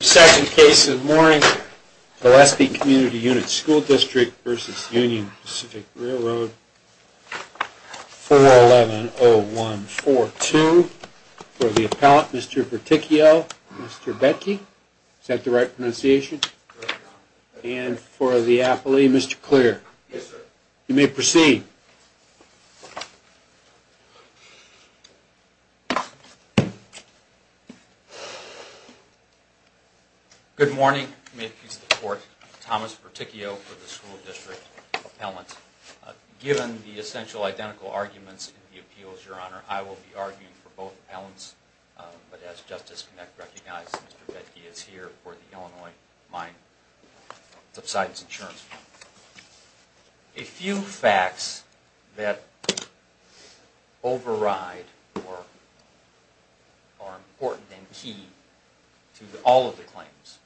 Second case of the morning, Gillespie Community Unit School District v. Union Pacific Railroad, 4110142, for the appellant, Mr. Berticchio, Mr. Betke, is that the right pronunciation, and for the appellee, Mr. Clear, you may proceed. Good morning. May it please the Court, Thomas Berticchio for the School District appellant. Given the essential identical arguments in the appeals, Your Honor, I will be arguing for both appellants, but as Justice Knecht recognized, Mr. Betke is here for the Illinois Mine Subsidence Insurance Fund. A few facts that override or are important and key to all of the claims,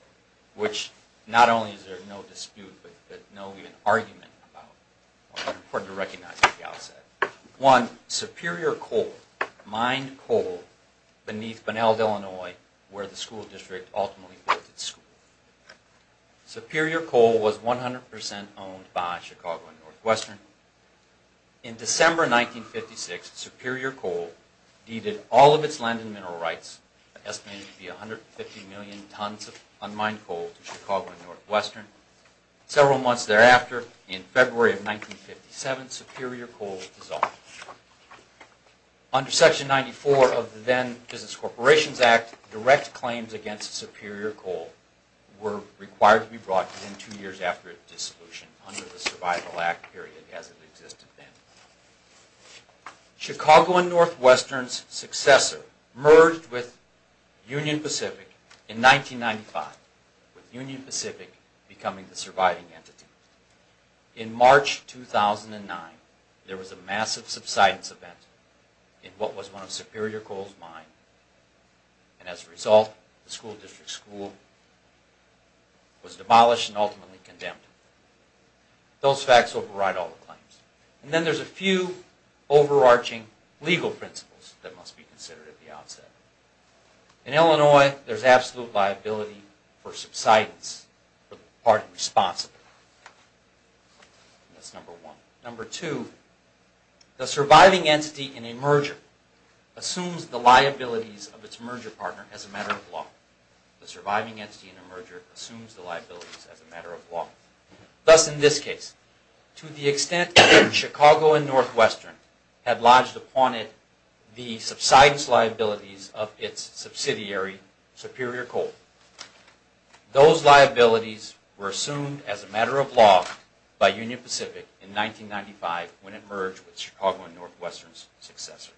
which not only is there no dispute, but no argument about, are important to recognize at the outset. One, Superior Coal, mined coal beneath Bunnells, Illinois, where the School District ultimately built its school. Superior Coal was 100% owned by Chicago and Northwestern. In December 1956, Superior Coal deeded all of its land and mineral rights, estimated to be 150 million tons of unmined coal to Chicago and Northwestern. Several months thereafter, in February of 1957, Superior Coal dissolved. Under Section 94 of the then Business Corporations Act, direct claims against Superior Coal were required to be brought within two years after its dissolution under the Survival Act period as it existed then. Chicago and Northwestern's successor merged with Union Pacific in 1995, with Union Pacific becoming the surviving entity. In March 2009, there was a massive subsidence event in what was one of Superior Coal's mines. As a result, the School District's school was demolished and ultimately condemned. Those facts override all of the claims. Then there are a few overarching legal principles that must be considered at the outset. In Illinois, there is absolute liability for subsidence for the party responsible. That's number one. Number two, the surviving entity in a merger assumes the liabilities of its merger partner as a matter of law. The surviving entity in a merger assumes the liabilities as a matter of law. Thus, in this case, to the extent Chicago and Northwestern had lodged upon it the subsidence liabilities of its subsidiary, Superior Coal, those liabilities were assumed as a matter of law by Union Pacific in 1995 when it merged with Chicago and Northwestern's successor.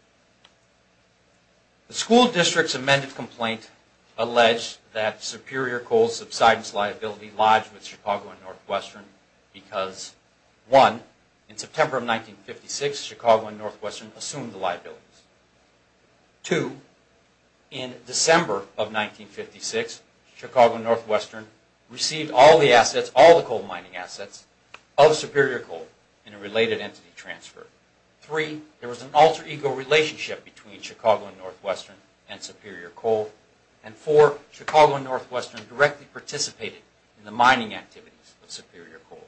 The School District's amended complaint alleged that Superior Coal's subsidence liability lodged with Chicago and Northwestern because, one, in September of 1956, Chicago and Northwestern assumed the liabilities. Two, in December of 1956, Chicago and Northwestern received all the coal mining assets of Superior Coal in a related entity transfer. Three, there was an alter ego relationship between Chicago and Northwestern and Superior Coal. Four, Chicago and Northwestern directly participated in the mining activities of Superior Coal.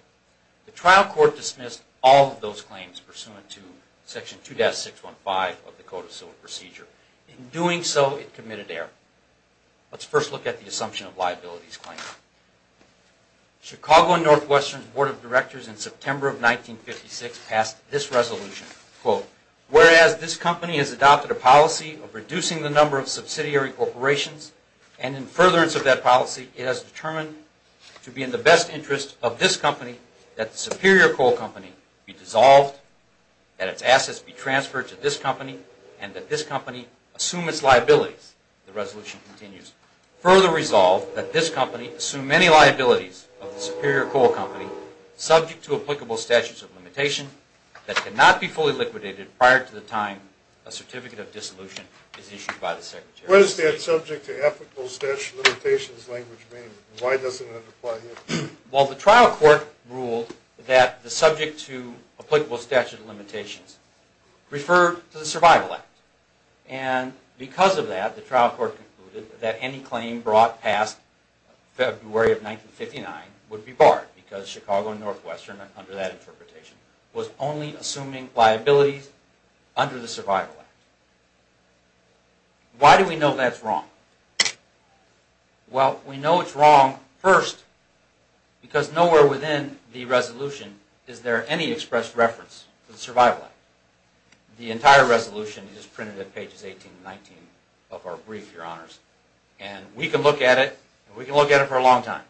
The trial court dismissed all of those claims pursuant to Section 2-615 of the Code of Civil Procedure. In doing so, it committed error. Let's first look at the assumption of liabilities claim. Chicago and Northwestern's Board of Directors in September of 1956 passed this resolution. Quote, whereas this company has adopted a policy of reducing the number of subsidiary corporations and in furtherance of that policy, it has determined to be in the best interest of this company that the Superior Coal Company be dissolved, that its assets be transferred to this company, and that this company assume its liabilities. The resolution continues, further resolved that this company assume any liabilities of the Superior Coal Company subject to applicable statutes of limitation that cannot be fully liquidated prior to the time a certificate of dissolution is issued by the Secretary. What does that subject to ethical statute of limitations language mean? Why doesn't it apply here? Well, the trial court ruled that the subject to applicable statute of limitations referred to the Survival Act. And because of that, the trial court concluded that any claim brought past February of 1959 would be barred because Chicago and Northwestern, under that interpretation, was only assuming liabilities under the Survival Act. Why do we know that's wrong? Well, we know it's wrong, first, because nowhere within the resolution is there any expressed reference to the Survival Act. The entire resolution is printed at pages 18 and 19 of our brief, Your Honors. And we can look at it, and we can look at it for a long time.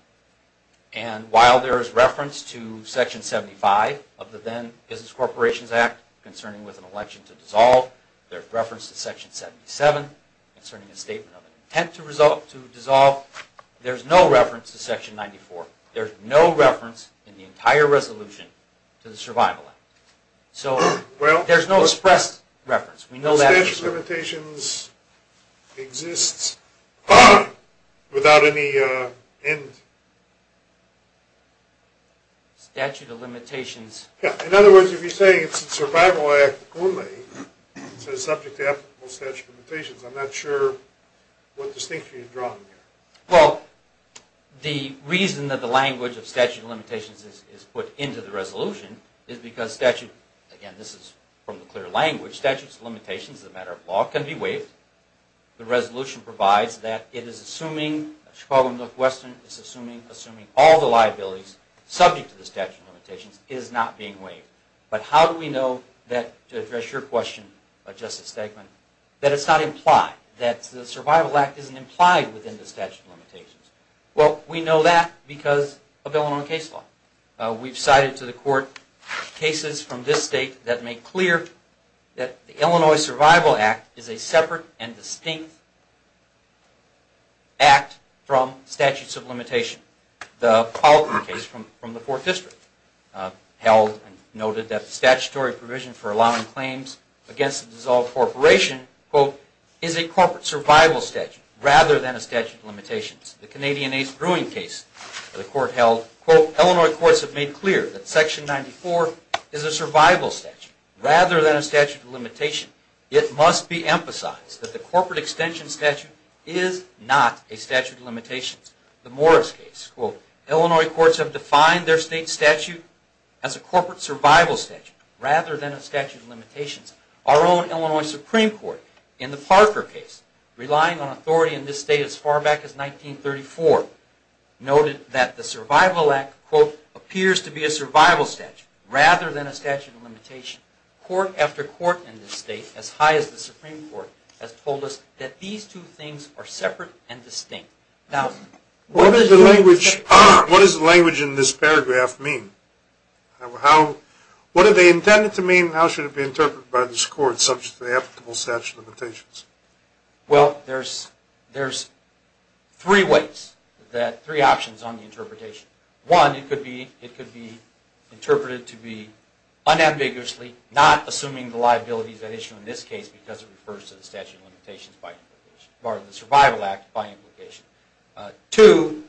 And while there is reference to Section 75 of the then Business Corporations Act concerning with an election to dissolve, there's reference to Section 77 concerning a statement of an intent to dissolve, there's no reference to Section 94. There's no reference in the entire resolution to the Survival Act. So there's no expressed reference. The statute of limitations exists without any end. In other words, if you're saying it's the Survival Act only, it's subject to applicable statute of limitations, I'm not sure what distinction you're drawing here. Well, the reason that the language of statute of limitations is put into the resolution is because statute, again, this is from the clear language, statute of limitations is a matter of law, can be waived. The resolution provides that it is assuming Chicago and Northwestern is assuming all the liabilities subject to the statute of limitations is not being waived. But how do we know that, to address your question, Justice Stegman, that it's not implied, that the Survival Act isn't implied within the statute of limitations? Well, we know that because of Illinois case law. We've cited to the court cases from this state that make clear that the Illinois Survival Act is a separate and distinct act from statute of limitations. The Politon case from the 4th District held and noted that the statutory provision for allowing claims against a dissolved corporation, quote, is a corporate survival statute rather than a statute of limitations. The Canadian Ace Brewing case, the court held, quote, Illinois courts have made clear that Section 94 is a survival statute rather than a statute of limitation. It must be emphasized that the corporate extension statute is not a statute of limitations. The Morris case, quote, Illinois courts have defined their state statute as a corporate survival statute rather than a statute of limitations. Our own Illinois Supreme Court, in the Parker case, relying on authority in this state as far back as 1934, noted that the Survival Act, quote, appears to be a survival statute rather than a statute of limitation. Court after court in this state, as high as the Supreme Court, has told us that these two things are separate and distinct. Now, what does the language in this paragraph mean? What are they intended to mean and how should it be interpreted by this court subject to the applicable statute of limitations? Well, there's three ways, three options on the interpretation. One, it could be interpreted to be unambiguously not assuming the liabilities at issue in this case because it refers to the statute of limitations by implication, or the Survival Act by implication. Two,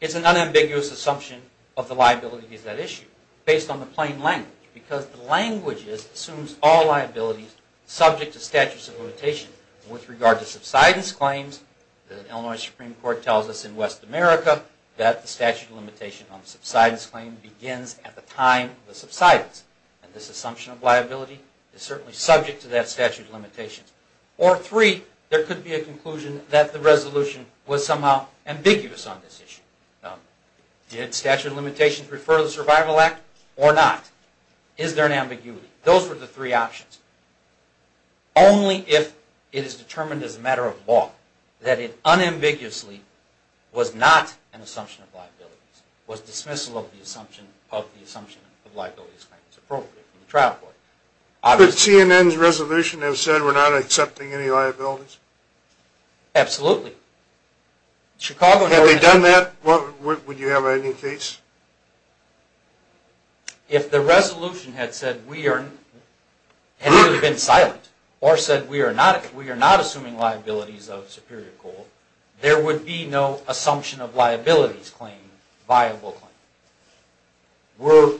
it's an unambiguous assumption of the liabilities at issue based on the plain language because the language assumes all liabilities subject to statute of limitations. With regard to subsidence claims, the Illinois Supreme Court tells us in West America that the statute of limitation on the subsidence claim begins at the time of the subsidence. And this assumption of liability is certainly subject to that statute of limitations. Or three, there could be a conclusion that the resolution was somehow ambiguous on this issue. Did statute of limitations refer to the Survival Act or not? Is there an ambiguity? Those were the three options. Only if it is determined as a matter of law that it unambiguously was not an assumption of liabilities. It was dismissal of the assumption of liabilities claims appropriately from the trial court. Could CNN's resolution have said we're not accepting any liabilities? Absolutely. Had they done that, would you have any case? If the resolution had said we are, had either been silent or said we are not assuming liabilities of Superior Court, there would be no assumption of liabilities claim, viable claim. We're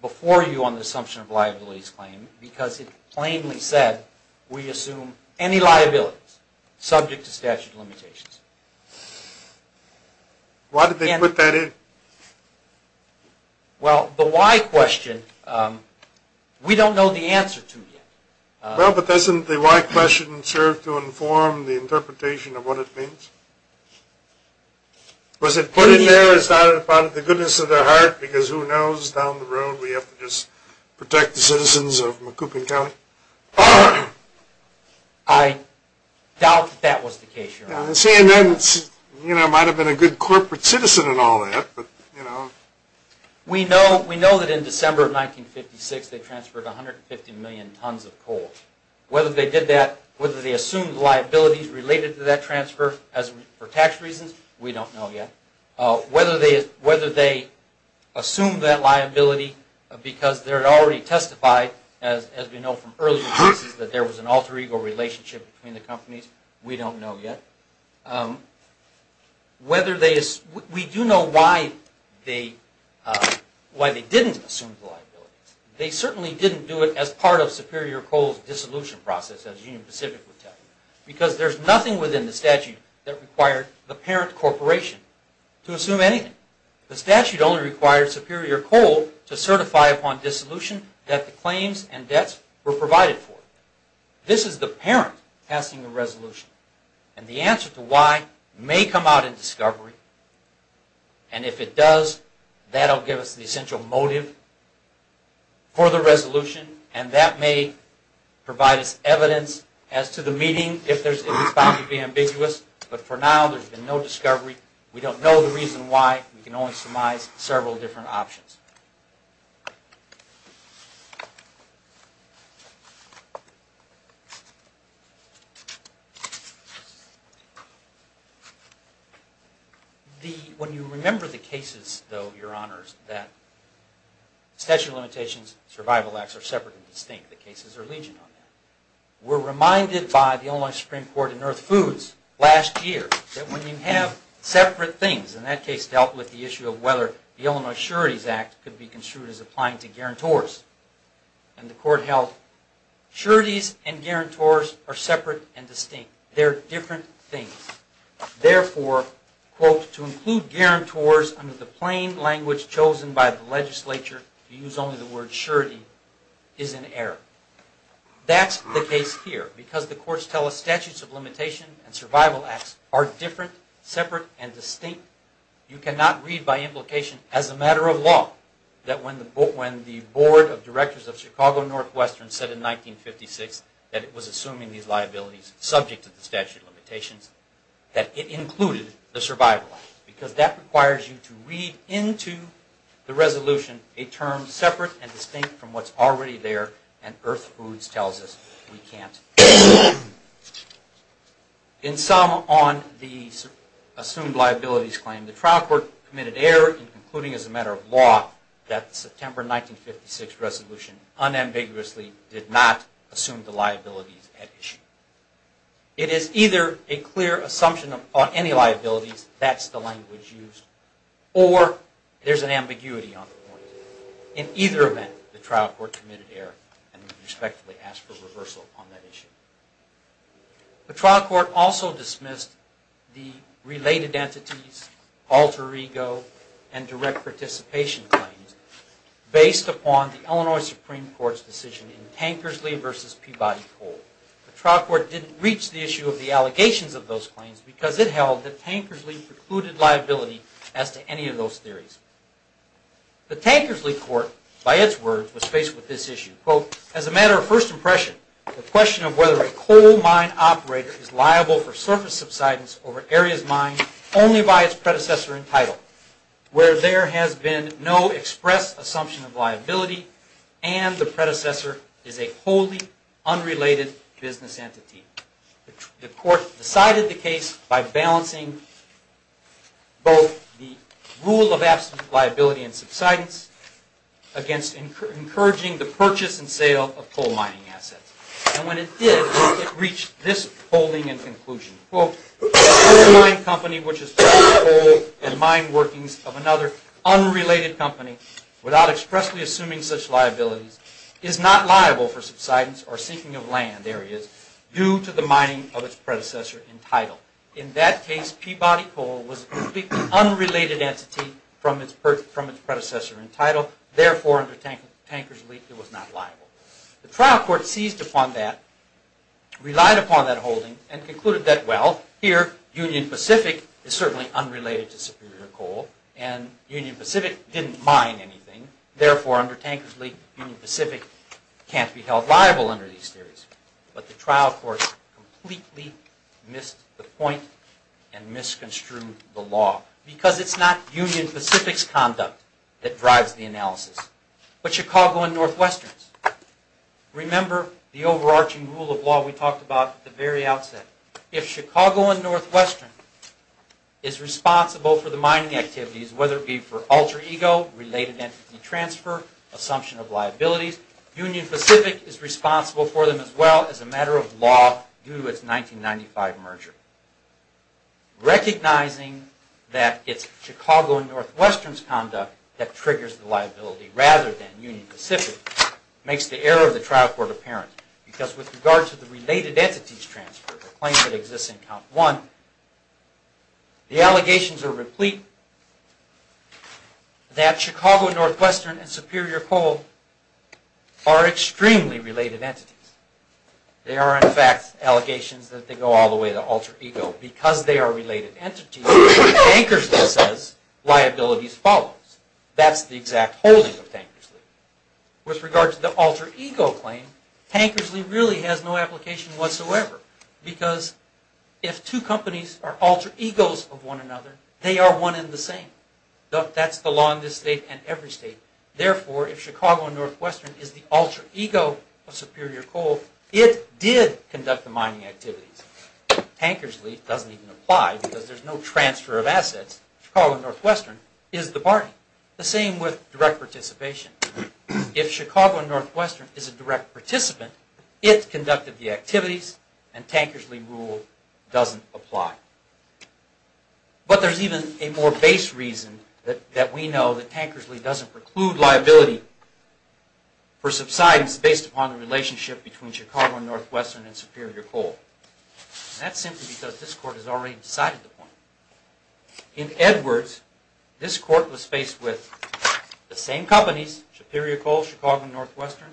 before you on the assumption of liabilities claim because it plainly said we assume any liabilities subject to statute of limitations. Why did they put that in? Well, the why question, we don't know the answer to yet. Well, but doesn't the why question serve to inform the interpretation of what it means? Was it put in there as part of the goodness of their heart because who knows down the road we have to just protect the citizens of Macoupin County? CNN might have been a good corporate citizen and all that. We know that in December of 1956 they transferred 150 million tons of coal. Whether they did that, whether they assumed liabilities related to that transfer for tax reasons, we don't know yet. Whether they assumed that liability because they had already testified as we know from earlier cases that there was an alter ego relationship between the companies, we don't know yet. We do know why they didn't assume the liabilities. They certainly didn't do it as part of Superior Coal's dissolution process as Union Pacific would tell you. Because there's nothing within the statute that required the parent corporation to assume anything. The statute only requires Superior Coal to certify upon dissolution that the claims and debts were provided for. This is the parent passing the resolution. The answer to why may come out in discovery. If it does, that will give us the essential motive for the resolution. That may provide us evidence as to the meaning if it's found to be ambiguous. For now, there's been no discovery. We don't know the reason why. We can only surmise several different options. When you remember the cases though, your honors, that Statute of Limitations and Survival Acts are separate and distinct. The cases are legion on that. We're reminded by the Illinois Supreme Court in Earth Foods last year that when you have separate things, and that case dealt with the issue of whether the Illinois Sureties Act could be construed as applying to guarantors. And the court held sureties and guarantors are separate and distinct. They're different things. Therefore, quote, to include guarantors under the plain language chosen by the legislature, to use only the word surety, is an error. That's the case here. Because the courts tell us Statutes of Limitation and Survival Acts are different, separate, and distinct. You cannot read by implication as a matter of law that when the Board of Directors of Chicago Northwestern said in 1956 that it was assuming these liabilities subject to the Statute of Limitations, that it included the Survival Acts. Because that requires you to read into the resolution a term separate and distinct from what's already there, and Earth Foods tells us we can't. In sum, on the assumed liabilities claim, the trial court committed error in concluding as a matter of law that the September 1956 resolution unambiguously did not assume the liabilities at issue. It is either a clear assumption on any liabilities, that's the language used, or there's an ambiguity on the point. In either event, the trial court committed error and respectively asked for reversal on that issue. The trial court also dismissed the related entities, alter ego, and direct participation claims based upon the Illinois Supreme Court's decision in Tankersley v. Peabody Co. The trial court didn't reach the issue of the allegations of those claims because it held that Tankersley precluded liability as to any of those theories. The Tankersley court, by its words, was faced with this issue. Quote, as a matter of first impression, the question of whether a coal mine operator is liable for surface subsidence over areas mined only by its predecessor entitled, where there has been no express assumption of liability and the predecessor is a wholly unrelated business entity. The court decided the case by balancing both the rule of absolute liability and subsidence against encouraging the purchase and sale of coal mining assets. And when it did, it reached this holding and conclusion. Quote, a coal mine company which is producing coal and mine workings of another unrelated company without expressly assuming such liabilities is not liable for subsidence or sinking of land areas due to the mining of its predecessor entitled. In that case, Peabody Co. was a completely unrelated entity from its predecessor entitled. Therefore, under Tankersley, it was not liable. The trial court seized upon that, relied upon that holding, and concluded that well, here, Union Pacific is certainly unrelated to Superior Coal and Union Pacific didn't mine anything. Therefore, under Tankersley, Union Pacific can't be held liable under these theories. But the trial court completely missed the point and misconstrued the law because it's not Union Pacific's conduct that drives the analysis. But Chicago and Northwestern's. Remember the overarching rule of law we talked about at the very outset. If Chicago and Northwestern is responsible for the mining activities, whether it be for alter ego, related entity transfer, assumption of liabilities, Union Pacific is responsible for them as well as a matter of law due to its 1995 merger. Recognizing that it's Chicago and Northwestern's conduct that triggers the liability rather than Union Pacific makes the error of the trial court apparent because with regard to the related entities transfer, the claim that exists in count one, the allegations are replete that Chicago and Northwestern and Superior Coal are extremely related entities. They are in fact allegations that they go all the way to alter ego. Because they are related entities, Tankersley says liabilities follows. That's the exact holding of Tankersley. With regard to the alter ego claim, Tankersley really has no application whatsoever because if two companies are alter egos of one another, they are one and the same. That's the law in this state and every state. Therefore, if Chicago and Northwestern is the alter ego of Superior Coal, it did conduct the mining activities. Tankersley doesn't even apply because there's no transfer of assets. Chicago and Northwestern is the party. The same with direct participation. If Chicago and Northwestern is a direct participant, it conducted the activities and Tankersley rule doesn't apply. But there's even a more base reason that we know that Tankersley doesn't preclude liability for subsidence based upon the relationship between Chicago and Northwestern and Superior Coal. That's simply because this court has already decided the point. In Edwards, this court was faced with the same companies, Superior Coal, Chicago and Northwestern,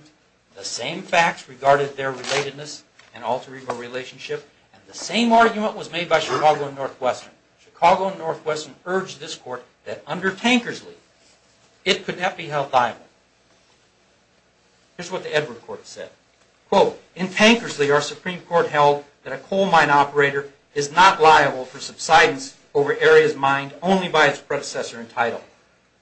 the same facts regarding their relatedness and alter ego relationship, and the same argument was made by Chicago and Northwestern. Chicago and Northwestern urged this court that under Tankersley, it could not be held liable. Here's what the Edwards court said. In Tankersley, our Supreme Court held that a coal mine operator is not liable for subsidence over areas mined only by its predecessor in title,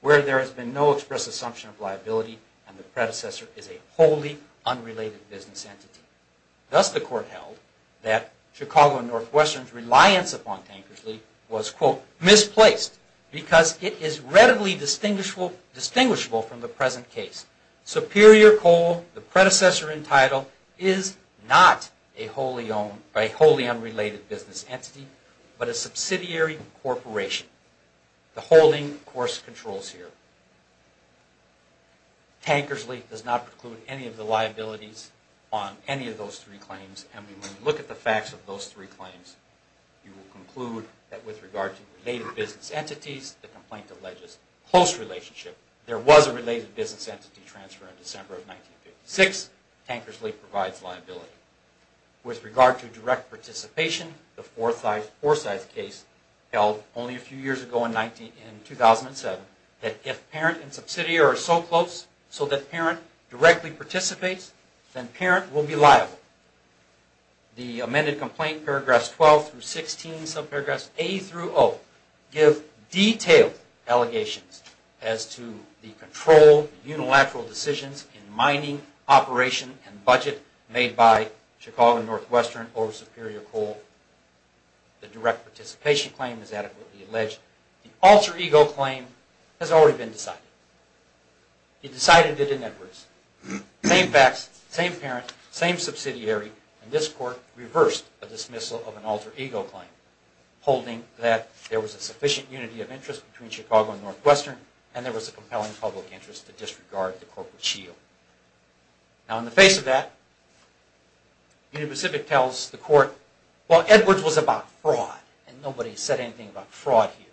where there has been no express assumption of liability and the predecessor is a wholly unrelated business entity. Thus the court held that Chicago and Northwestern's reliance upon Tankersley was misplaced because it is readily distinguishable from the present case. Superior Coal, the predecessor in title, is not a wholly unrelated business entity, but a subsidiary corporation. The holding, of course, controls here. Tankersley does not preclude any of the liabilities on any of those three claims and when you look at the facts of those three claims, you will conclude that with regard to related business entities, the complaint alleges close relationship. There was a related business entity transfer in December of 1956. Tankersley provides liability. With regard to direct participation, the Forsyth case held only a few years ago in 2007, that if parent and subsidiary are so close so that parent directly participates, then parent will be liable. The amended complaint paragraphs 12 through 16, subparagraphs A through O, give detailed allegations as to the control, unilateral decisions in mining, operation, and budget made by Chicago and Northwestern or Superior Coal. The direct participation claim is adequately alleged. The alter ego claim has already been decided. It decided it in Edwards. Same facts, same parent, same subsidiary, and this court reversed a dismissal of an alter ego claim, holding that there was a sufficient unity of interest between Chicago and Northwestern and there was a compelling public interest to disregard the corporate shield. Now, in the face of that, Union Pacific tells the court, well, Edwards was about fraud and nobody said anything about fraud here.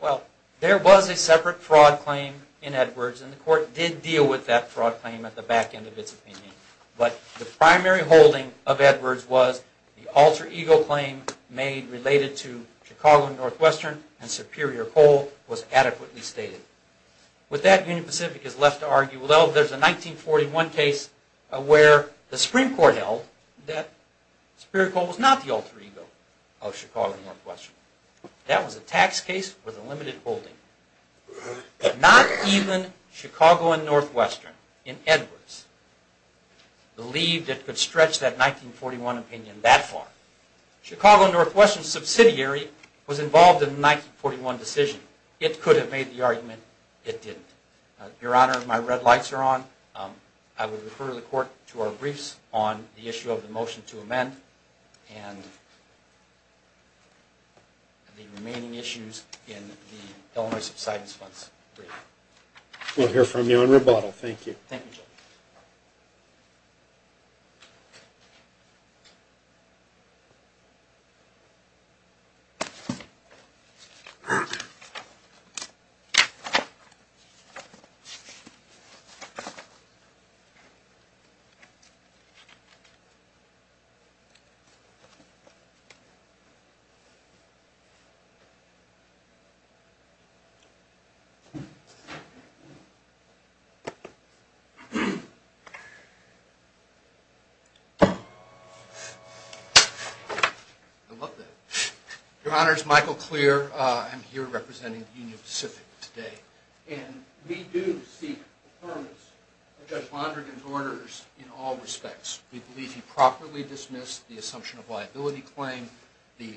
Well, there was a separate fraud claim in Edwards and the court did deal with that fraud claim at the back end of its opinion, but the primary holding of Edwards was the alter ego claim made related to Chicago and Northwestern and Superior Coal was adequately stated. With that, Union Pacific is left to argue, well, there's a 1941 case where the Supreme Court held that Superior Coal was not the alter ego of Chicago and Northwestern. That was a tax case with a limited holding. Not even Chicago and Northwestern in Edwards believed it could stretch that 1941 opinion that far. Chicago and Northwestern's subsidiary was involved in the 1941 decision. It could have made the argument, it didn't. Your Honor, my red lights are on. I will refer the court to our briefs on the issue of the motion to amend and the remaining issues in the Illinois subsidence funds brief. We'll hear from you on rebuttal. Thank you. Thank you, Judge. I love that. Your Honor, it's Michael Clear. I'm here representing the Union Pacific today. And we do seek the firmness of Judge Mondragon's orders in all respects. We believe he properly dismissed the assumption of liability claim, the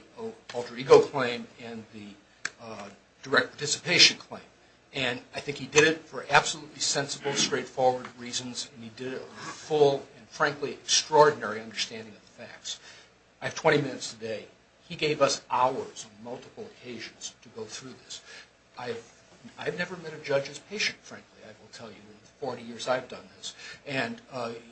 alter ego claim, and the direct participation claim. And I think he did it for absolutely sensible, straightforward reasons. And he did it with a full and, frankly, extraordinary understanding of the facts. I have 20 minutes today. He gave us hours on multiple occasions to go through this. I've never met a judge as patient, frankly, I will tell you. In the 40 years I've done this. And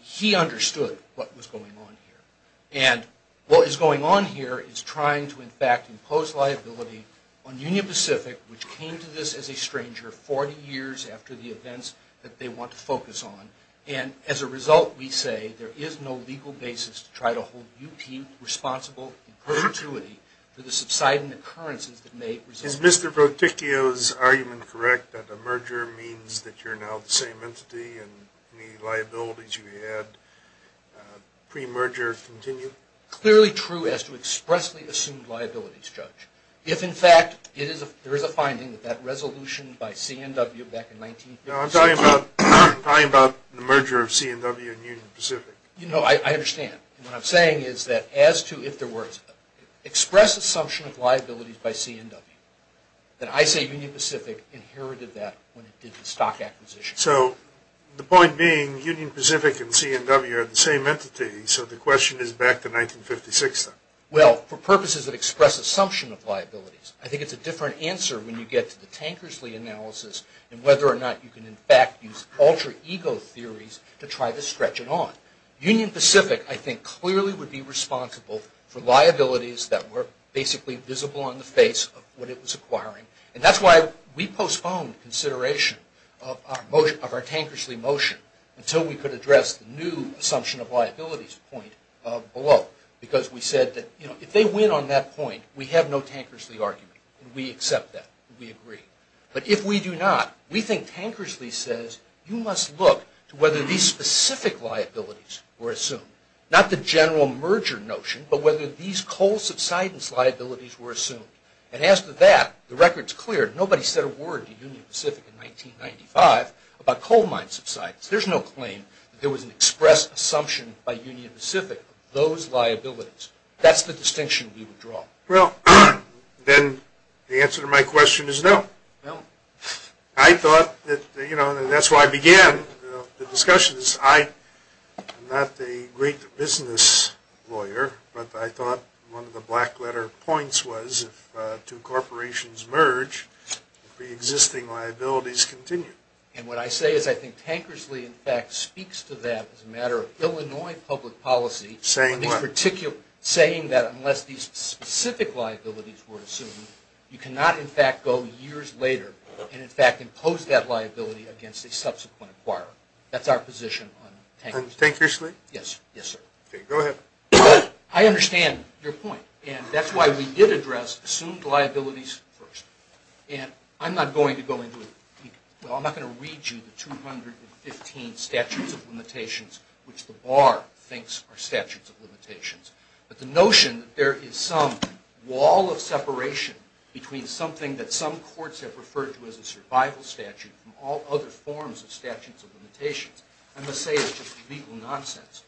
he understood what was going on here. And what is going on here is trying to, in fact, impose liability on Union Pacific, which came to this as a stranger 40 years after the events that they want to focus on. And as a result, we say, there is no legal basis to try to hold UP responsible in perpetuity for the subsiding occurrences that may result. Is Mr. Voticchio's argument correct that a merger means that you're now the same entity and the liabilities you had pre-merger continue? Clearly true as to expressly assumed liabilities, Judge. If, in fact, there is a finding that that resolution by C&W back in 19- No, I'm talking about the merger of C&W and Union Pacific. You know, I understand. What I'm saying is that as to if there were express assumption of liabilities by C&W, then I say Union Pacific inherited that when it did the stock acquisition. So the point being, Union Pacific and C&W are the same entity, so the question is back to 1956 then. Well, for purposes that express assumption of liabilities. I think it's a different answer when you get to the Tankersley analysis and whether or not you can, in fact, use alter ego theories to try to stretch it on. Union Pacific, I think, clearly would be responsible for liabilities that were basically visible on the face of what it was acquiring. And that's why we postponed consideration of our Tankersley motion until we could address the new assumption of liabilities point below. Because we said that if they win on that point, we have no Tankersley argument. We accept that. We agree. But if we do not, we think Tankersley says you must look to whether these specific liabilities were assumed. Not the general merger notion, but whether these coal subsidence liabilities were assumed. And as to that, the record's clear. Nobody said a word to Union Pacific in 1995 about coal mine subsidence. There's no claim that there was an express assumption by Union Pacific of those liabilities. That's the distinction we would draw. Well, then the answer to my question is no. I thought that, you know, that's where I began the discussion. I'm not a great business lawyer, but I thought one of the black letter points was if two corporations merge, the existing liabilities continue. And what I say is I think Tankersley, in fact, speaks to that as a matter of Illinois public policy. Saying what? Saying that unless these specific liabilities were assumed, you cannot, in fact, go years later and, in fact, impose that liability against a subsequent acquirer. That's our position on Tankersley. On Tankersley? Yes, yes, sir. Okay, go ahead. I understand your point, and that's why we did address assumed liabilities first. And I'm not going to go into it. Well, I'm not going to read you the 215 statutes of limitations, which the bar thinks are statutes of limitations. But the notion that there is some wall of separation between something that some forms of statutes of limitations, I'm going to say is just legal nonsense.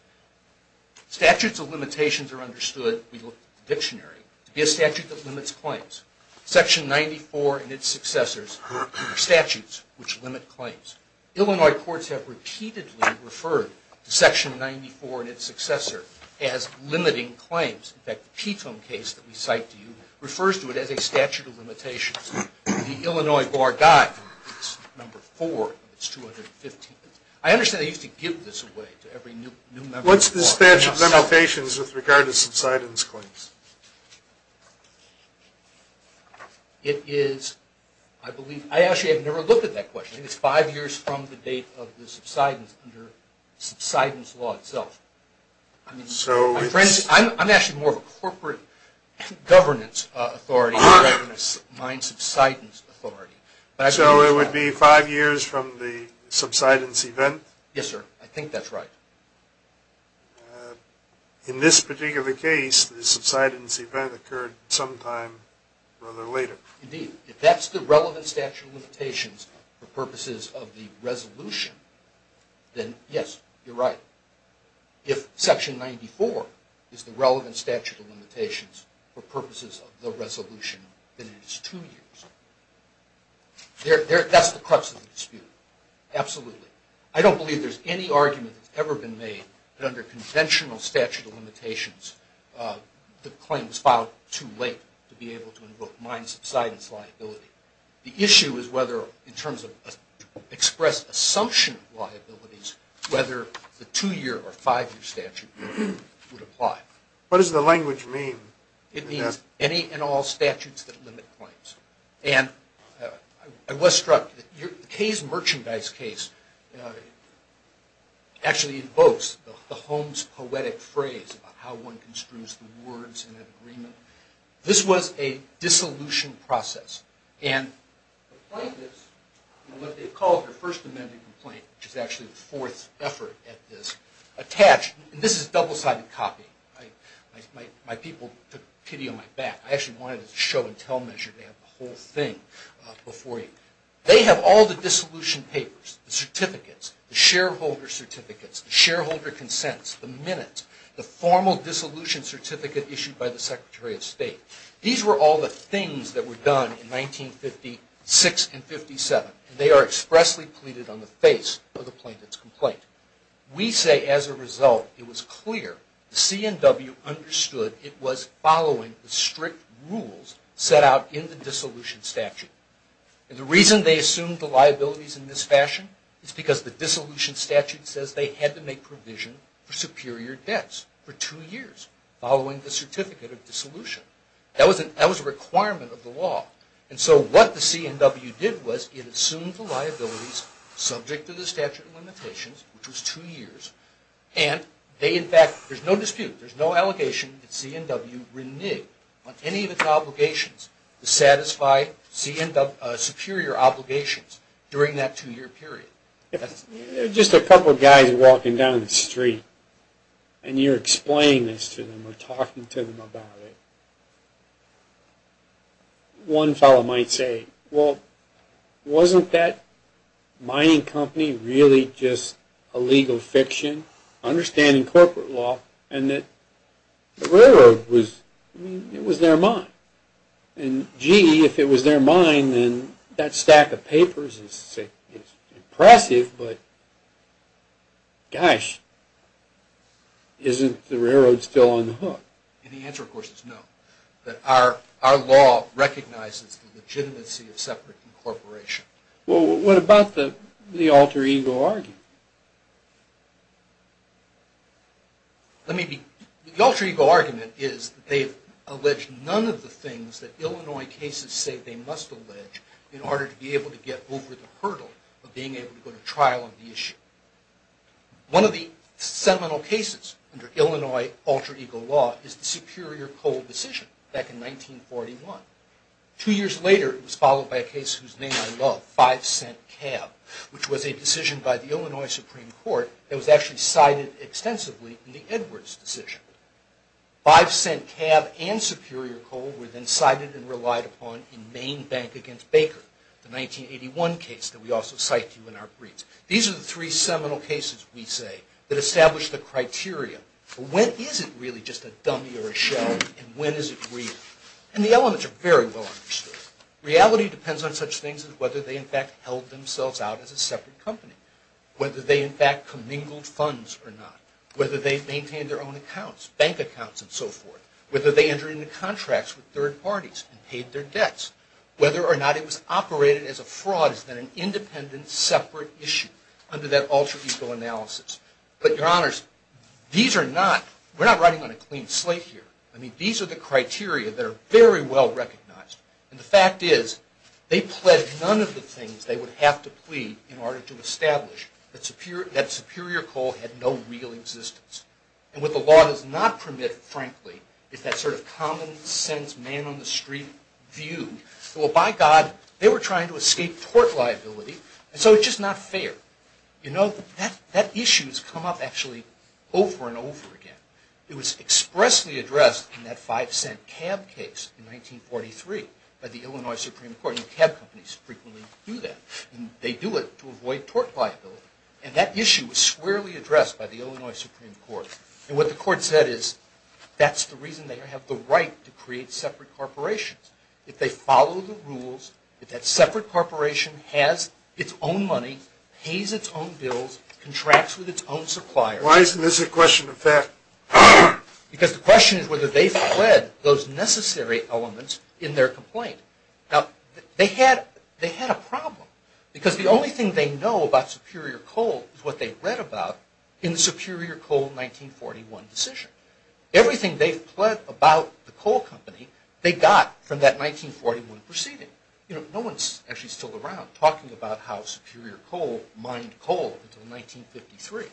Statutes of limitations are understood, we look at the dictionary, to be a statute that limits claims. Section 94 and its successors are statutes which limit claims. Illinois courts have repeatedly referred to Section 94 and its successor as limiting claims. In fact, the Petone case that we cite to you refers to it as a statute of limitations. The Illinois bar died, it's number four of its 215. I understand they used to give this away to every new member of the bar. What's the statute of limitations with regard to subsidence claims? It is, I believe, I actually have never looked at that question. I think it's five years from the date of the subsidence under subsidence law itself. I'm actually more of a corporate governance authority than a subsidence authority. So it would be five years from the subsidence event? Yes, sir, I think that's right. In this particular case, the subsidence event occurred sometime rather later. Indeed, if that's the relevant statute of limitations for purposes of the resolution, then yes, you're right. If Section 94 is the relevant statute of limitations for purposes of the resolution, then it is two years. That's the crux of the dispute, absolutely. I don't believe there's any argument that's ever been made that under conventional statute of limitations, the claim was filed too late to be able to invoke mine subsidence liability. The issue is whether, in terms of expressed assumption of liabilities, whether the two-year or five-year statute would apply. What does the language mean? It means any and all statutes that limit claims. And I was struck, Kay's merchandise case actually invokes the Holmes poetic phrase about how one construes the words in an agreement. This was a dissolution process. And the plaintiffs, in what they've called their first amended complaint, which is actually the fourth effort at this, attached, and this is double-sided copy. My people took pity on my back. I actually wanted to show and tell measure. They have the whole thing before you. They have all the dissolution papers, the certificates, the shareholder certificates, the shareholder consents, the minutes, the formal dissolution certificate issued by the Secretary of State. These were all the things that were done in 1956 and 57, and they are expressly pleaded on the face of the plaintiff's complaint. We say, as a result, it was clear the C&W understood it was following the strict rules set out in the dissolution statute. And the reason they assumed the liabilities in this fashion is because the dissolution statute says they had to make provision for superior debts for two years following the certificate of dissolution. That was a requirement of the law. And so what the C&W did was it assumed the liabilities subject to the statute of limitations, which was two years, and they, in fact, there's no dispute, there's no allegation that C&W reneged on any of its obligations to satisfy C&W's superior obligations during that two-year period. Just a couple of guys walking down the street, and you're explaining this to them or talking to them about it. One fellow might say, well, wasn't that mining company really just a legal fiction, understanding corporate law, and that the railroad was, I mean, it was their mine. And, gee, if it was their mine, then that stack of papers is impressive, but, gosh, isn't the railroad still on the hook? And the answer, of course, is no. Our law recognizes the legitimacy of separate incorporation. Well, what about the alter ego argument? The alter ego argument is that they've alleged none of the things that Illinois cases say they must allege in order to be able to get over the hurdle of being able to go to trial on the issue. One of the seminal cases under Illinois alter ego law is the Superior Coal decision back in 1941. Two years later, it was followed by a case whose name I love, Five Cent Cab, which was a decision by the Illinois Supreme Court that was actually cited extensively in the Edwards decision. Five Cent Cab and Superior Coal were then cited and relied upon in Maine Bank against Baker, the 1981 case that we also cite to you in our briefs. These are the three seminal cases, we say, that establish the criteria for when is it really just a dummy or a shell, and when is it real? And the elements are very well understood. Reality depends on such things as whether they, in fact, held themselves out as a separate company. Whether they, in fact, commingled funds or not. Whether they maintained their own accounts, bank accounts and so forth. Whether they entered into contracts with third parties and paid their debts. Whether or not it was operated as a fraud is then an independent, separate issue under that alter ego analysis. But your honors, these are not, we're not writing on a clean slate here. I mean, these are the criteria that are very well recognized. And the fact is, they pledged none of the things they would have to plead in order to establish that Superior Coal had no real existence. And what the law does not permit, frankly, is that sort of common sense, man on the street view. Well, by God, they were trying to escape tort liability, and so it's just not fair. You know, that issue has come up actually over and over again. It was expressly addressed in that five cent cab case in 1943 by the Illinois Supreme Court. And cab companies frequently do that. And they do it to avoid tort liability. And that issue was squarely addressed by the Illinois Supreme Court. And what the court said is, that's the reason they have the right to create separate corporations. If they follow the rules, if that separate corporation has its own money, pays its own bills, contracts with its own suppliers. Why isn't this a question of fact? Because the question is whether they've pled those necessary elements in their complaint. Now, they had a problem, because the only thing they know about Superior Coal is what they read about in the Superior Coal 1941 decision. Everything they've pled about the coal company, they got from that 1941 proceeding. You know, no one's actually still around talking about how Superior Coal mined coal until 1953.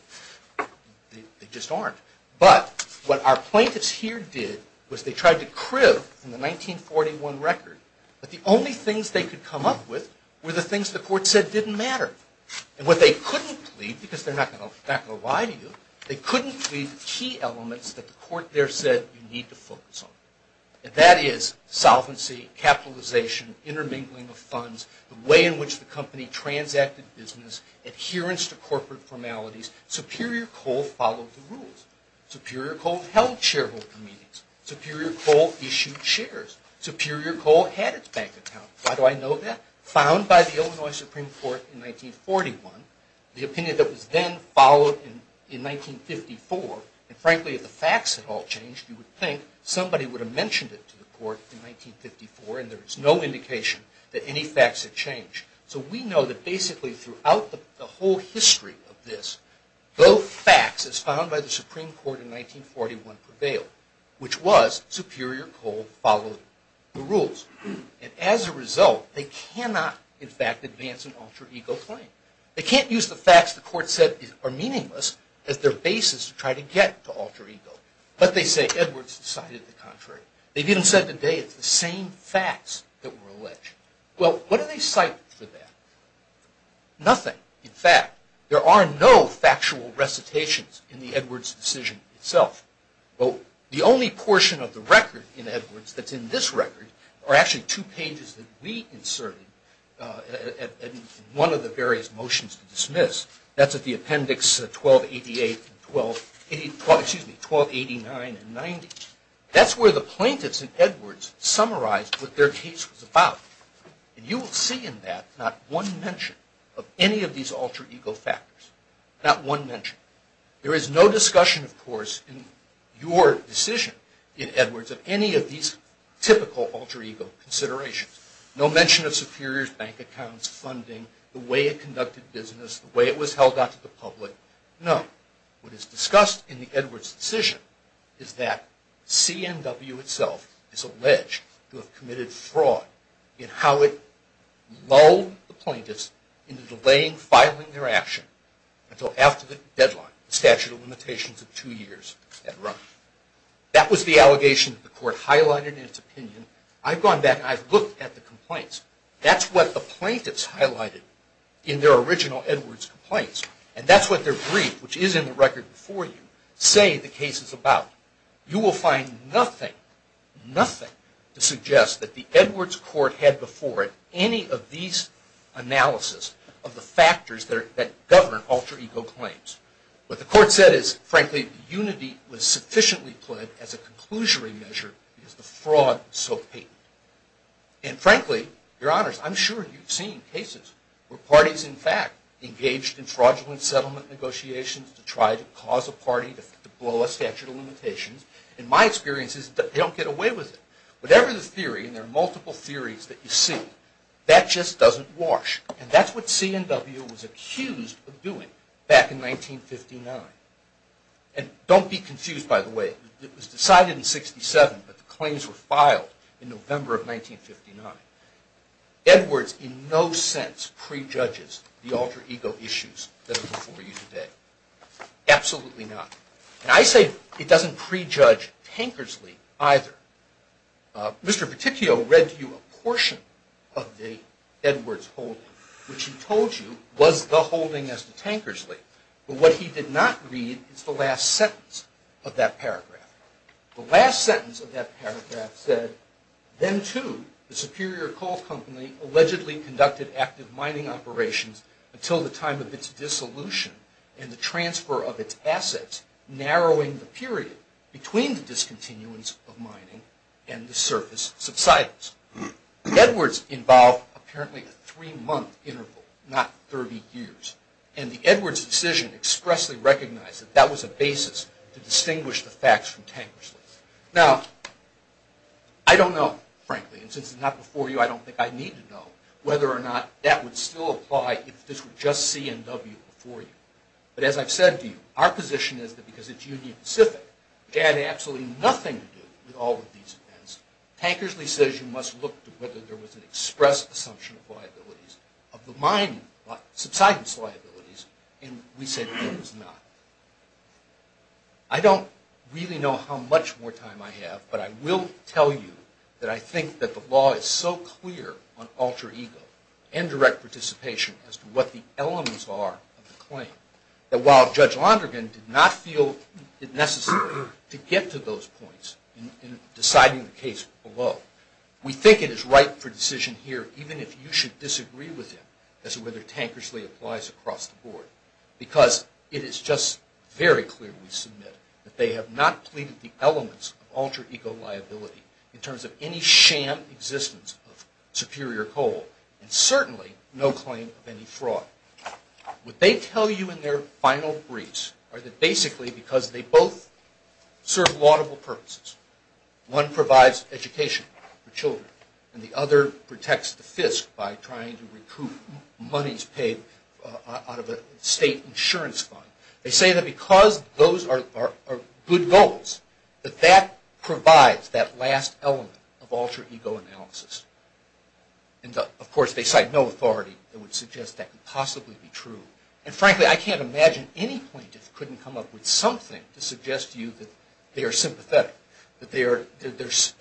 They just aren't. But what our plaintiffs here did was they tried to crib from the 1941 record that the only things they could come up with were the things the court said didn't matter. And what they couldn't plead, because they're not going to lie to you, they couldn't plead the key elements that the court there said you need to focus on. And that is solvency, capitalization, intermingling of funds, the way in which the company transacted business, adherence to corporate formalities. Superior Coal followed the rules. Superior Coal held shareholder meetings. Superior Coal issued shares. Superior Coal had its bank account. Why do I know that? Found by the Illinois Supreme Court in 1941. The opinion that was then followed in 1954. And frankly, if the facts had all changed, you would think somebody would have mentioned it to the court in 1954, and there is no indication that any facts had changed. So we know that basically throughout the whole history of this, both facts as found by the Supreme Court in 1941 prevailed, which was Superior Coal followed the rules. And as a result, they cannot, in fact, advance an alter ego claim. They can't use the facts the court said are meaningless as their basis to try to get to alter ego. But they say Edwards decided the contrary. They've even said today it's the same facts that were alleged. Well, what do they cite for that? Nothing, in fact. There are no factual recitations in the Edwards decision itself. The only portion of the record in Edwards that's in this record are actually two pages that we inserted in one of the various motions to dismiss. That's at the appendix 1288 and 1289 and 90. That's where the plaintiffs in Edwards summarized what their case was about. And you will see in that not one mention of any of these alter ego factors. Not one mention. There is no discussion, of course, in your decision in Edwards of any of these typical alter ego considerations. No mention of superiors, bank accounts, funding, the way it conducted business, the way it was held out to the public. No. What is discussed in the Edwards decision is that CMW itself is alleged to have committed fraud in how it lulled the plaintiffs into delaying filing their action until after the deadline, the statute of limitations of two years had run. That was the allegation that the court highlighted in its opinion. I've gone back and I've looked at the complaints. That's what the plaintiffs highlighted in their original Edwards complaints. And that's what their brief, which is in the record before you, say the case is about. You will find nothing, nothing to suggest that the Edwards court had before it any of these analysis of the factors that govern alter ego claims. What the court said is, frankly, unity was sufficiently played as a conclusionary measure because the fraud was so patent. And frankly, your honors, I'm sure you've seen cases where parties in fact engaged in fraudulent settlement negotiations to try to cause a party to blow a statute of limitations. And my experience is that they don't get away with it. Whatever the theory, and there are multiple theories that you see, that just doesn't wash. And that's what C&W was accused of doing back in 1959. And don't be confused, by the way. It was decided in 67, but the claims were filed in November of 1959. Edwards in no sense prejudges the alter ego issues that are before you today. Absolutely not. And I say it doesn't prejudge Tankersley either. Mr. Peticchio read to you a portion of the Edwards holding, which he told you was the holding as to Tankersley. But what he did not read is the last sentence of that paragraph. The last sentence of that paragraph said, then too the Superior Coal Company allegedly conducted active mining operations until the time of its dissolution and the transfer of its assets, narrowing the period between the discontinuance of mining and the surface subsidence. Edwards involved apparently a three-month interval, not 30 years. And the Edwards decision expressly recognized that that was a basis to distinguish the facts from Tankersley. Now, I don't know, frankly, and since it's not before you, I don't think I need to know, whether or not that would still apply if this were just C&W before you. But as I've said to you, our position is that because it's Union Pacific, which had absolutely nothing to do with all of these events, Tankersley says you must look to whether there was an express assumption of liabilities, of the mining subsidence liabilities, and we say there was not. I don't really know how much more time I have, but I will tell you that I think that the law is so clear on alter ego and direct participation as to what the elements are of the claim, that while Judge Londrigan did not feel it necessary to get to those points in deciding the case below, we think it is right for decision here, even if you should disagree with him, as to whether Tankersley applies across the board. Because it is just very clear, we submit, that they have not pleaded the elements of alter ego liability in terms of any sham existence of superior coal, and certainly no claim of any fraud. What they tell you in their final briefs are that basically because they both serve laudable purposes, one provides education for children, and the other protects the FISC by trying to recoup monies paid out of a state insurance fund, They say that because those are good goals, that that provides that last element of alter ego analysis. And of course they cite no authority that would suggest that could possibly be true, and frankly I can't imagine any plaintiff couldn't come up with something to suggest to you that they are sympathetic, that they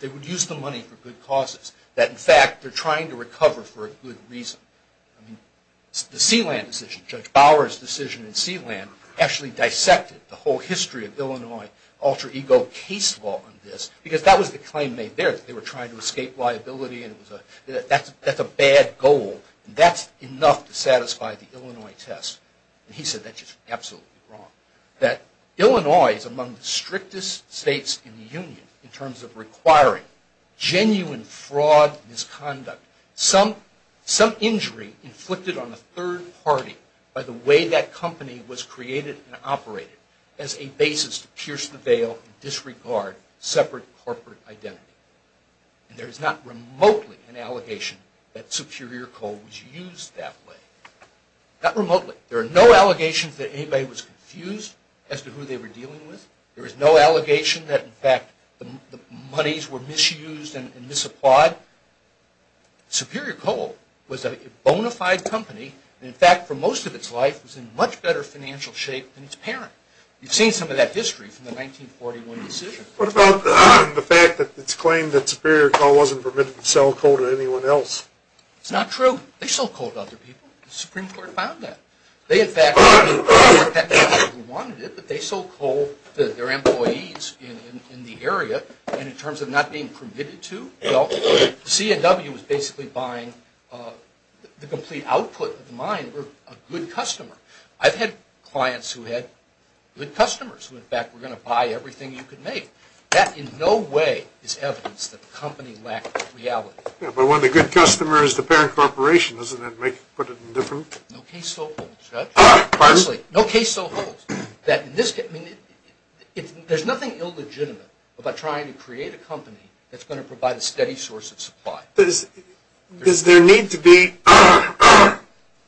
would use the money for good causes, that in fact they are trying to recover for a good reason. The Sealand decision, Judge Bower's decision in Sealand, actually dissected the whole history of Illinois alter ego case law on this, because that was the claim made there, that they were trying to escape liability, and that's a bad goal, and that's enough to satisfy the Illinois test. And he said that's just absolutely wrong. That Illinois is among the strictest states in the Union, in terms of requiring genuine fraud misconduct. Some injury inflicted on a third party by the way that company was created and operated as a basis to pierce the veil and disregard separate corporate identity. And there is not remotely an allegation that superior coal was used that way. Not remotely. There are no allegations that anybody was confused as to who they were dealing with. There is no allegation that in fact the monies were misused and misapplied. Now, superior coal was a bona fide company, and in fact for most of its life was in much better financial shape than its parent. You've seen some of that history from the 1941 decision. What about the fact that it's claimed that superior coal wasn't permitted to sell coal to anyone else? It's not true. They sold coal to other people. The Supreme Court found that. They in fact wanted it, but they sold coal to their employees in the area, and in terms of not being permitted to, well, the CNW was basically buying the complete output of the mine for a good customer. I've had clients who had good customers who in fact were going to buy everything you could make. That in no way is evidence that the company lacked reality. Yeah, but one of the good customers is the parent corporation. Doesn't that put it in a different? No case so holds, Judge. No case so holds. There's nothing illegitimate about trying to create a company that's going to provide a steady source of supply. Does there need to be,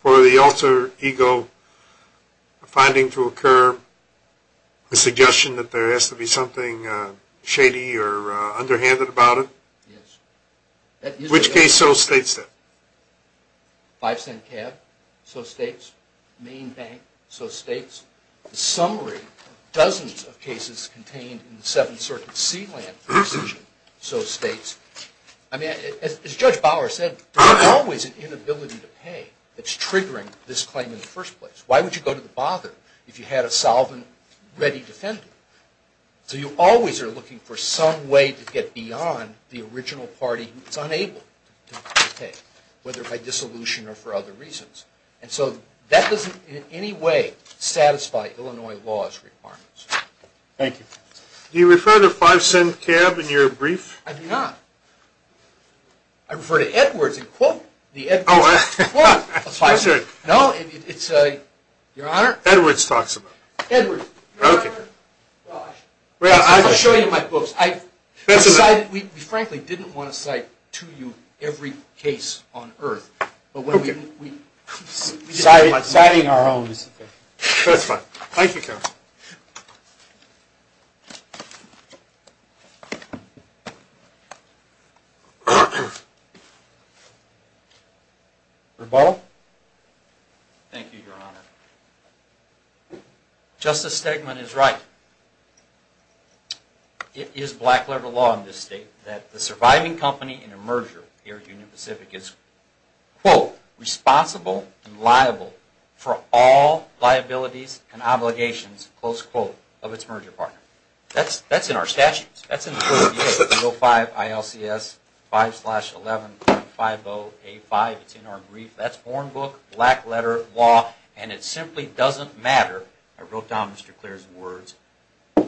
for the alter ego, a finding to occur, a suggestion that there has to be something shady or underhanded about it? Yes. Which case so states that? Five cent cab? So states. Main bank? So states. The summary of dozens of cases contained in the Seventh Circuit sealant decision? So states. I mean, as Judge Bower said, there's always an inability to pay that's triggering this claim in the first place. Why would you go to the bother if you had a solvent-ready defender? So you always are looking for some way to get beyond the original party who's unable to pay, whether by dissolution or for other reasons. And so that doesn't in any way satisfy Illinois law's requirements. Thank you. Do you refer to five cent cab in your brief? I do not. I refer to Edwards and quote the Edwards quote of five cent. No, it's your Honor. Edwards talks about it. Edwards. Okay. Well, I'll show you my books. We frankly didn't want to cite to you every case on Earth. Okay. Citing our own is okay. That's fine. Thank you, Counselor. Reball? Thank you, Your Honor. Justice Stegman is right. It is black-letter law in this state that the surviving company in a merger here at Union Pacific is, quote, responsible and liable for all liabilities and obligations, close quote, of its merger partner. That's in our statutes. That's in the Code of Behavior, 305 ILCS 5-11.50A5. It's in our brief. That's born book, black-letter law, and it simply doesn't matter. I wrote down Mr. Clair's words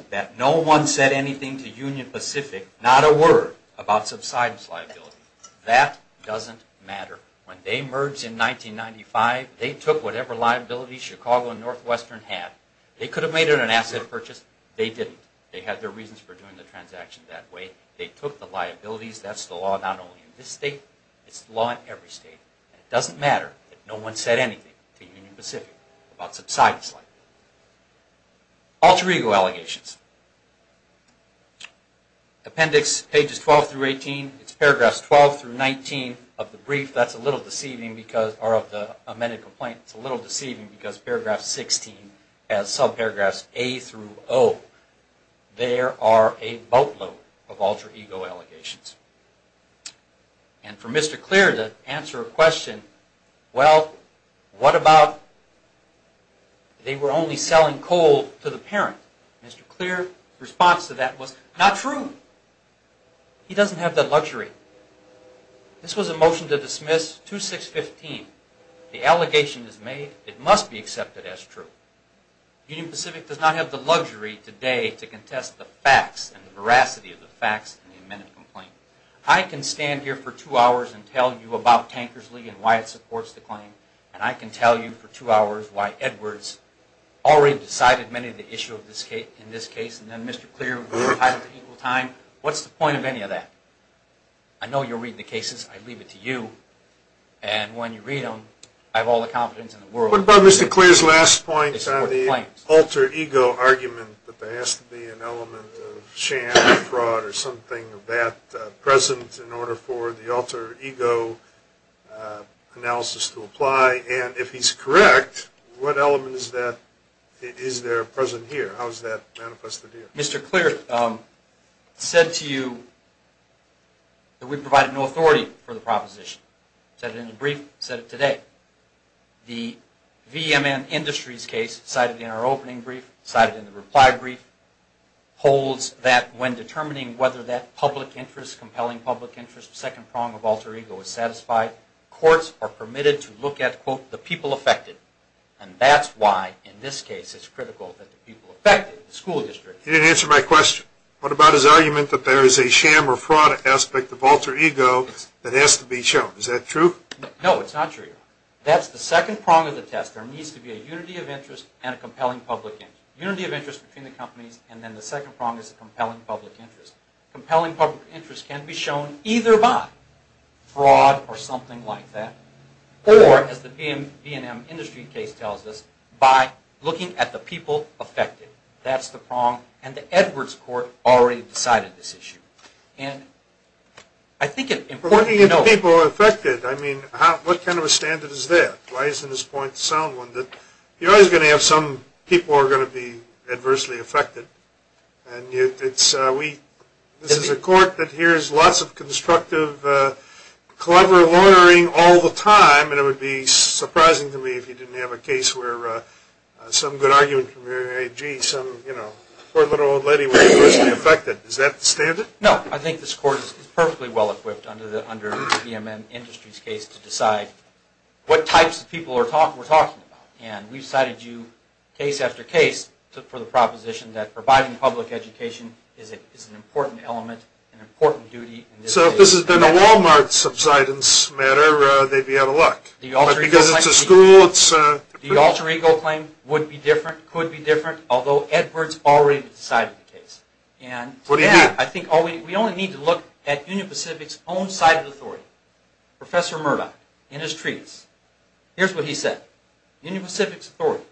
that no one said anything to Union Pacific, not a word, about subsidence liability. That doesn't matter. When they merged in 1995, they took whatever liabilities Chicago and Northwestern had. They could have made it an asset purchase. They didn't. They had their reasons for doing the transaction that way. They took the liabilities. That's the law not only in this state. It's the law in every state. It doesn't matter that no one said anything to Union Pacific about subsidence liability. Alter ego allegations. Appendix pages 12 through 18, it's paragraphs 12 through 19 of the brief. That's a little deceiving because of the amended complaint. It's a little deceiving because paragraph 16 has subparagraphs A through O. There are a boatload of alter ego allegations. And for Mr. Clair to answer a question, well, what about they were only selling coal to the parent? Mr. Clair's response to that was, not true. He doesn't have that luxury. This was a motion to dismiss 2615. The allegation is made. It must be accepted as true. Union Pacific does not have the luxury today to contest the facts and the veracity of the facts in the amended complaint. I can stand here for two hours and tell you about Tankersley and why it supports the claim, and I can tell you for two hours why Edwards already decided many of the issues in this case, and then Mr. Clair will tie it to equal time. What's the point of any of that? I know you'll read the cases. I leave it to you. And when you read them, I have all the confidence in the world. What about Mr. Clair's last point on the alter ego argument, that there has to be an element of sham, fraud, or something of that present in order for the alter ego analysis to apply? And if he's correct, what element is there present here? How is that manifested here? Mr. Clair said to you that we provide no authority for the proposition. Said it in the brief, said it today. The VMN Industries case cited in our opening brief, cited in the reply brief, holds that when determining whether that public interest, compelling public interest, second prong of alter ego is satisfied, courts are permitted to look at, quote, the people affected. And that's why in this case it's critical that the people affected, the school district. He didn't answer my question. What about his argument that there is a sham or fraud aspect of alter ego that has to be shown? Is that true? No, it's not true. That's the second prong of the test. There needs to be a unity of interest and a compelling public interest. Unity of interest between the companies, and then the second prong is compelling public interest. Compelling public interest can be shown either by fraud or something like that, or as the VMN Industries case tells us, by looking at the people affected. That's the prong, and the Edwards Court already decided this issue. We're looking at the people affected. I mean, what kind of a standard is that? Why isn't this point the sound one? You're always going to have some people are going to be adversely affected. And this is a court that hears lots of constructive, clever loitering all the time, and it would be surprising to me if you didn't have a case where some good argument from your AG, some poor little old lady was adversely affected. Is that the standard? No, I think this court is perfectly well-equipped under the VMN Industries case to decide what types of people we're talking about. And we've cited you case after case for the proposition that providing public education is an important element, an important duty in this case. So if this had been a Walmart subsidence matter, they'd be out of luck. But because it's a school, it's a privilege. The alter ego claim would be different, could be different, although Edwards already decided the case. What do you mean? I think we only need to look at Union Pacific's own side of the story. Professor Murdoch, in his treatise, here's what he said. Union Pacific's authority.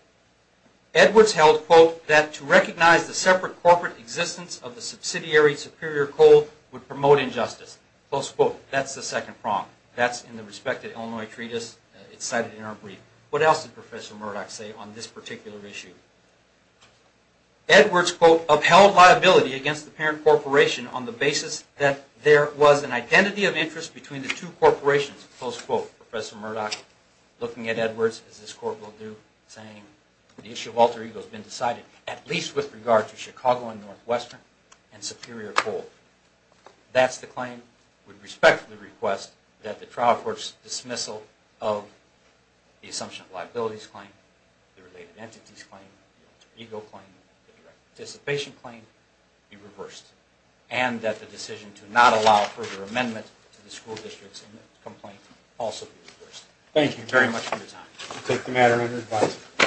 Edwards held, quote, that to recognize the separate corporate existence of the subsidiary superior code would promote injustice. Close quote. That's the second prong. That's in the respected Illinois treatise. It's cited in our brief. What else did Professor Murdoch say on this particular issue? Edwards, quote, upheld liability against the parent corporation on the basis that there was an identity of interest between the two corporations. Close quote. Professor Murdoch, looking at Edwards, as this court will do, saying the issue of alter ego has been decided, at least with regard to Chicago and Northwestern and superior code. That's the claim. I, too, would respectfully request that the trial court's dismissal of the assumption of liabilities claim, the related entities claim, the alter ego claim, the direct participation claim be reversed, and that the decision to not allow further amendments to the school district's complaint also be reversed. Thank you very much for your time. We'll take the matter under advice.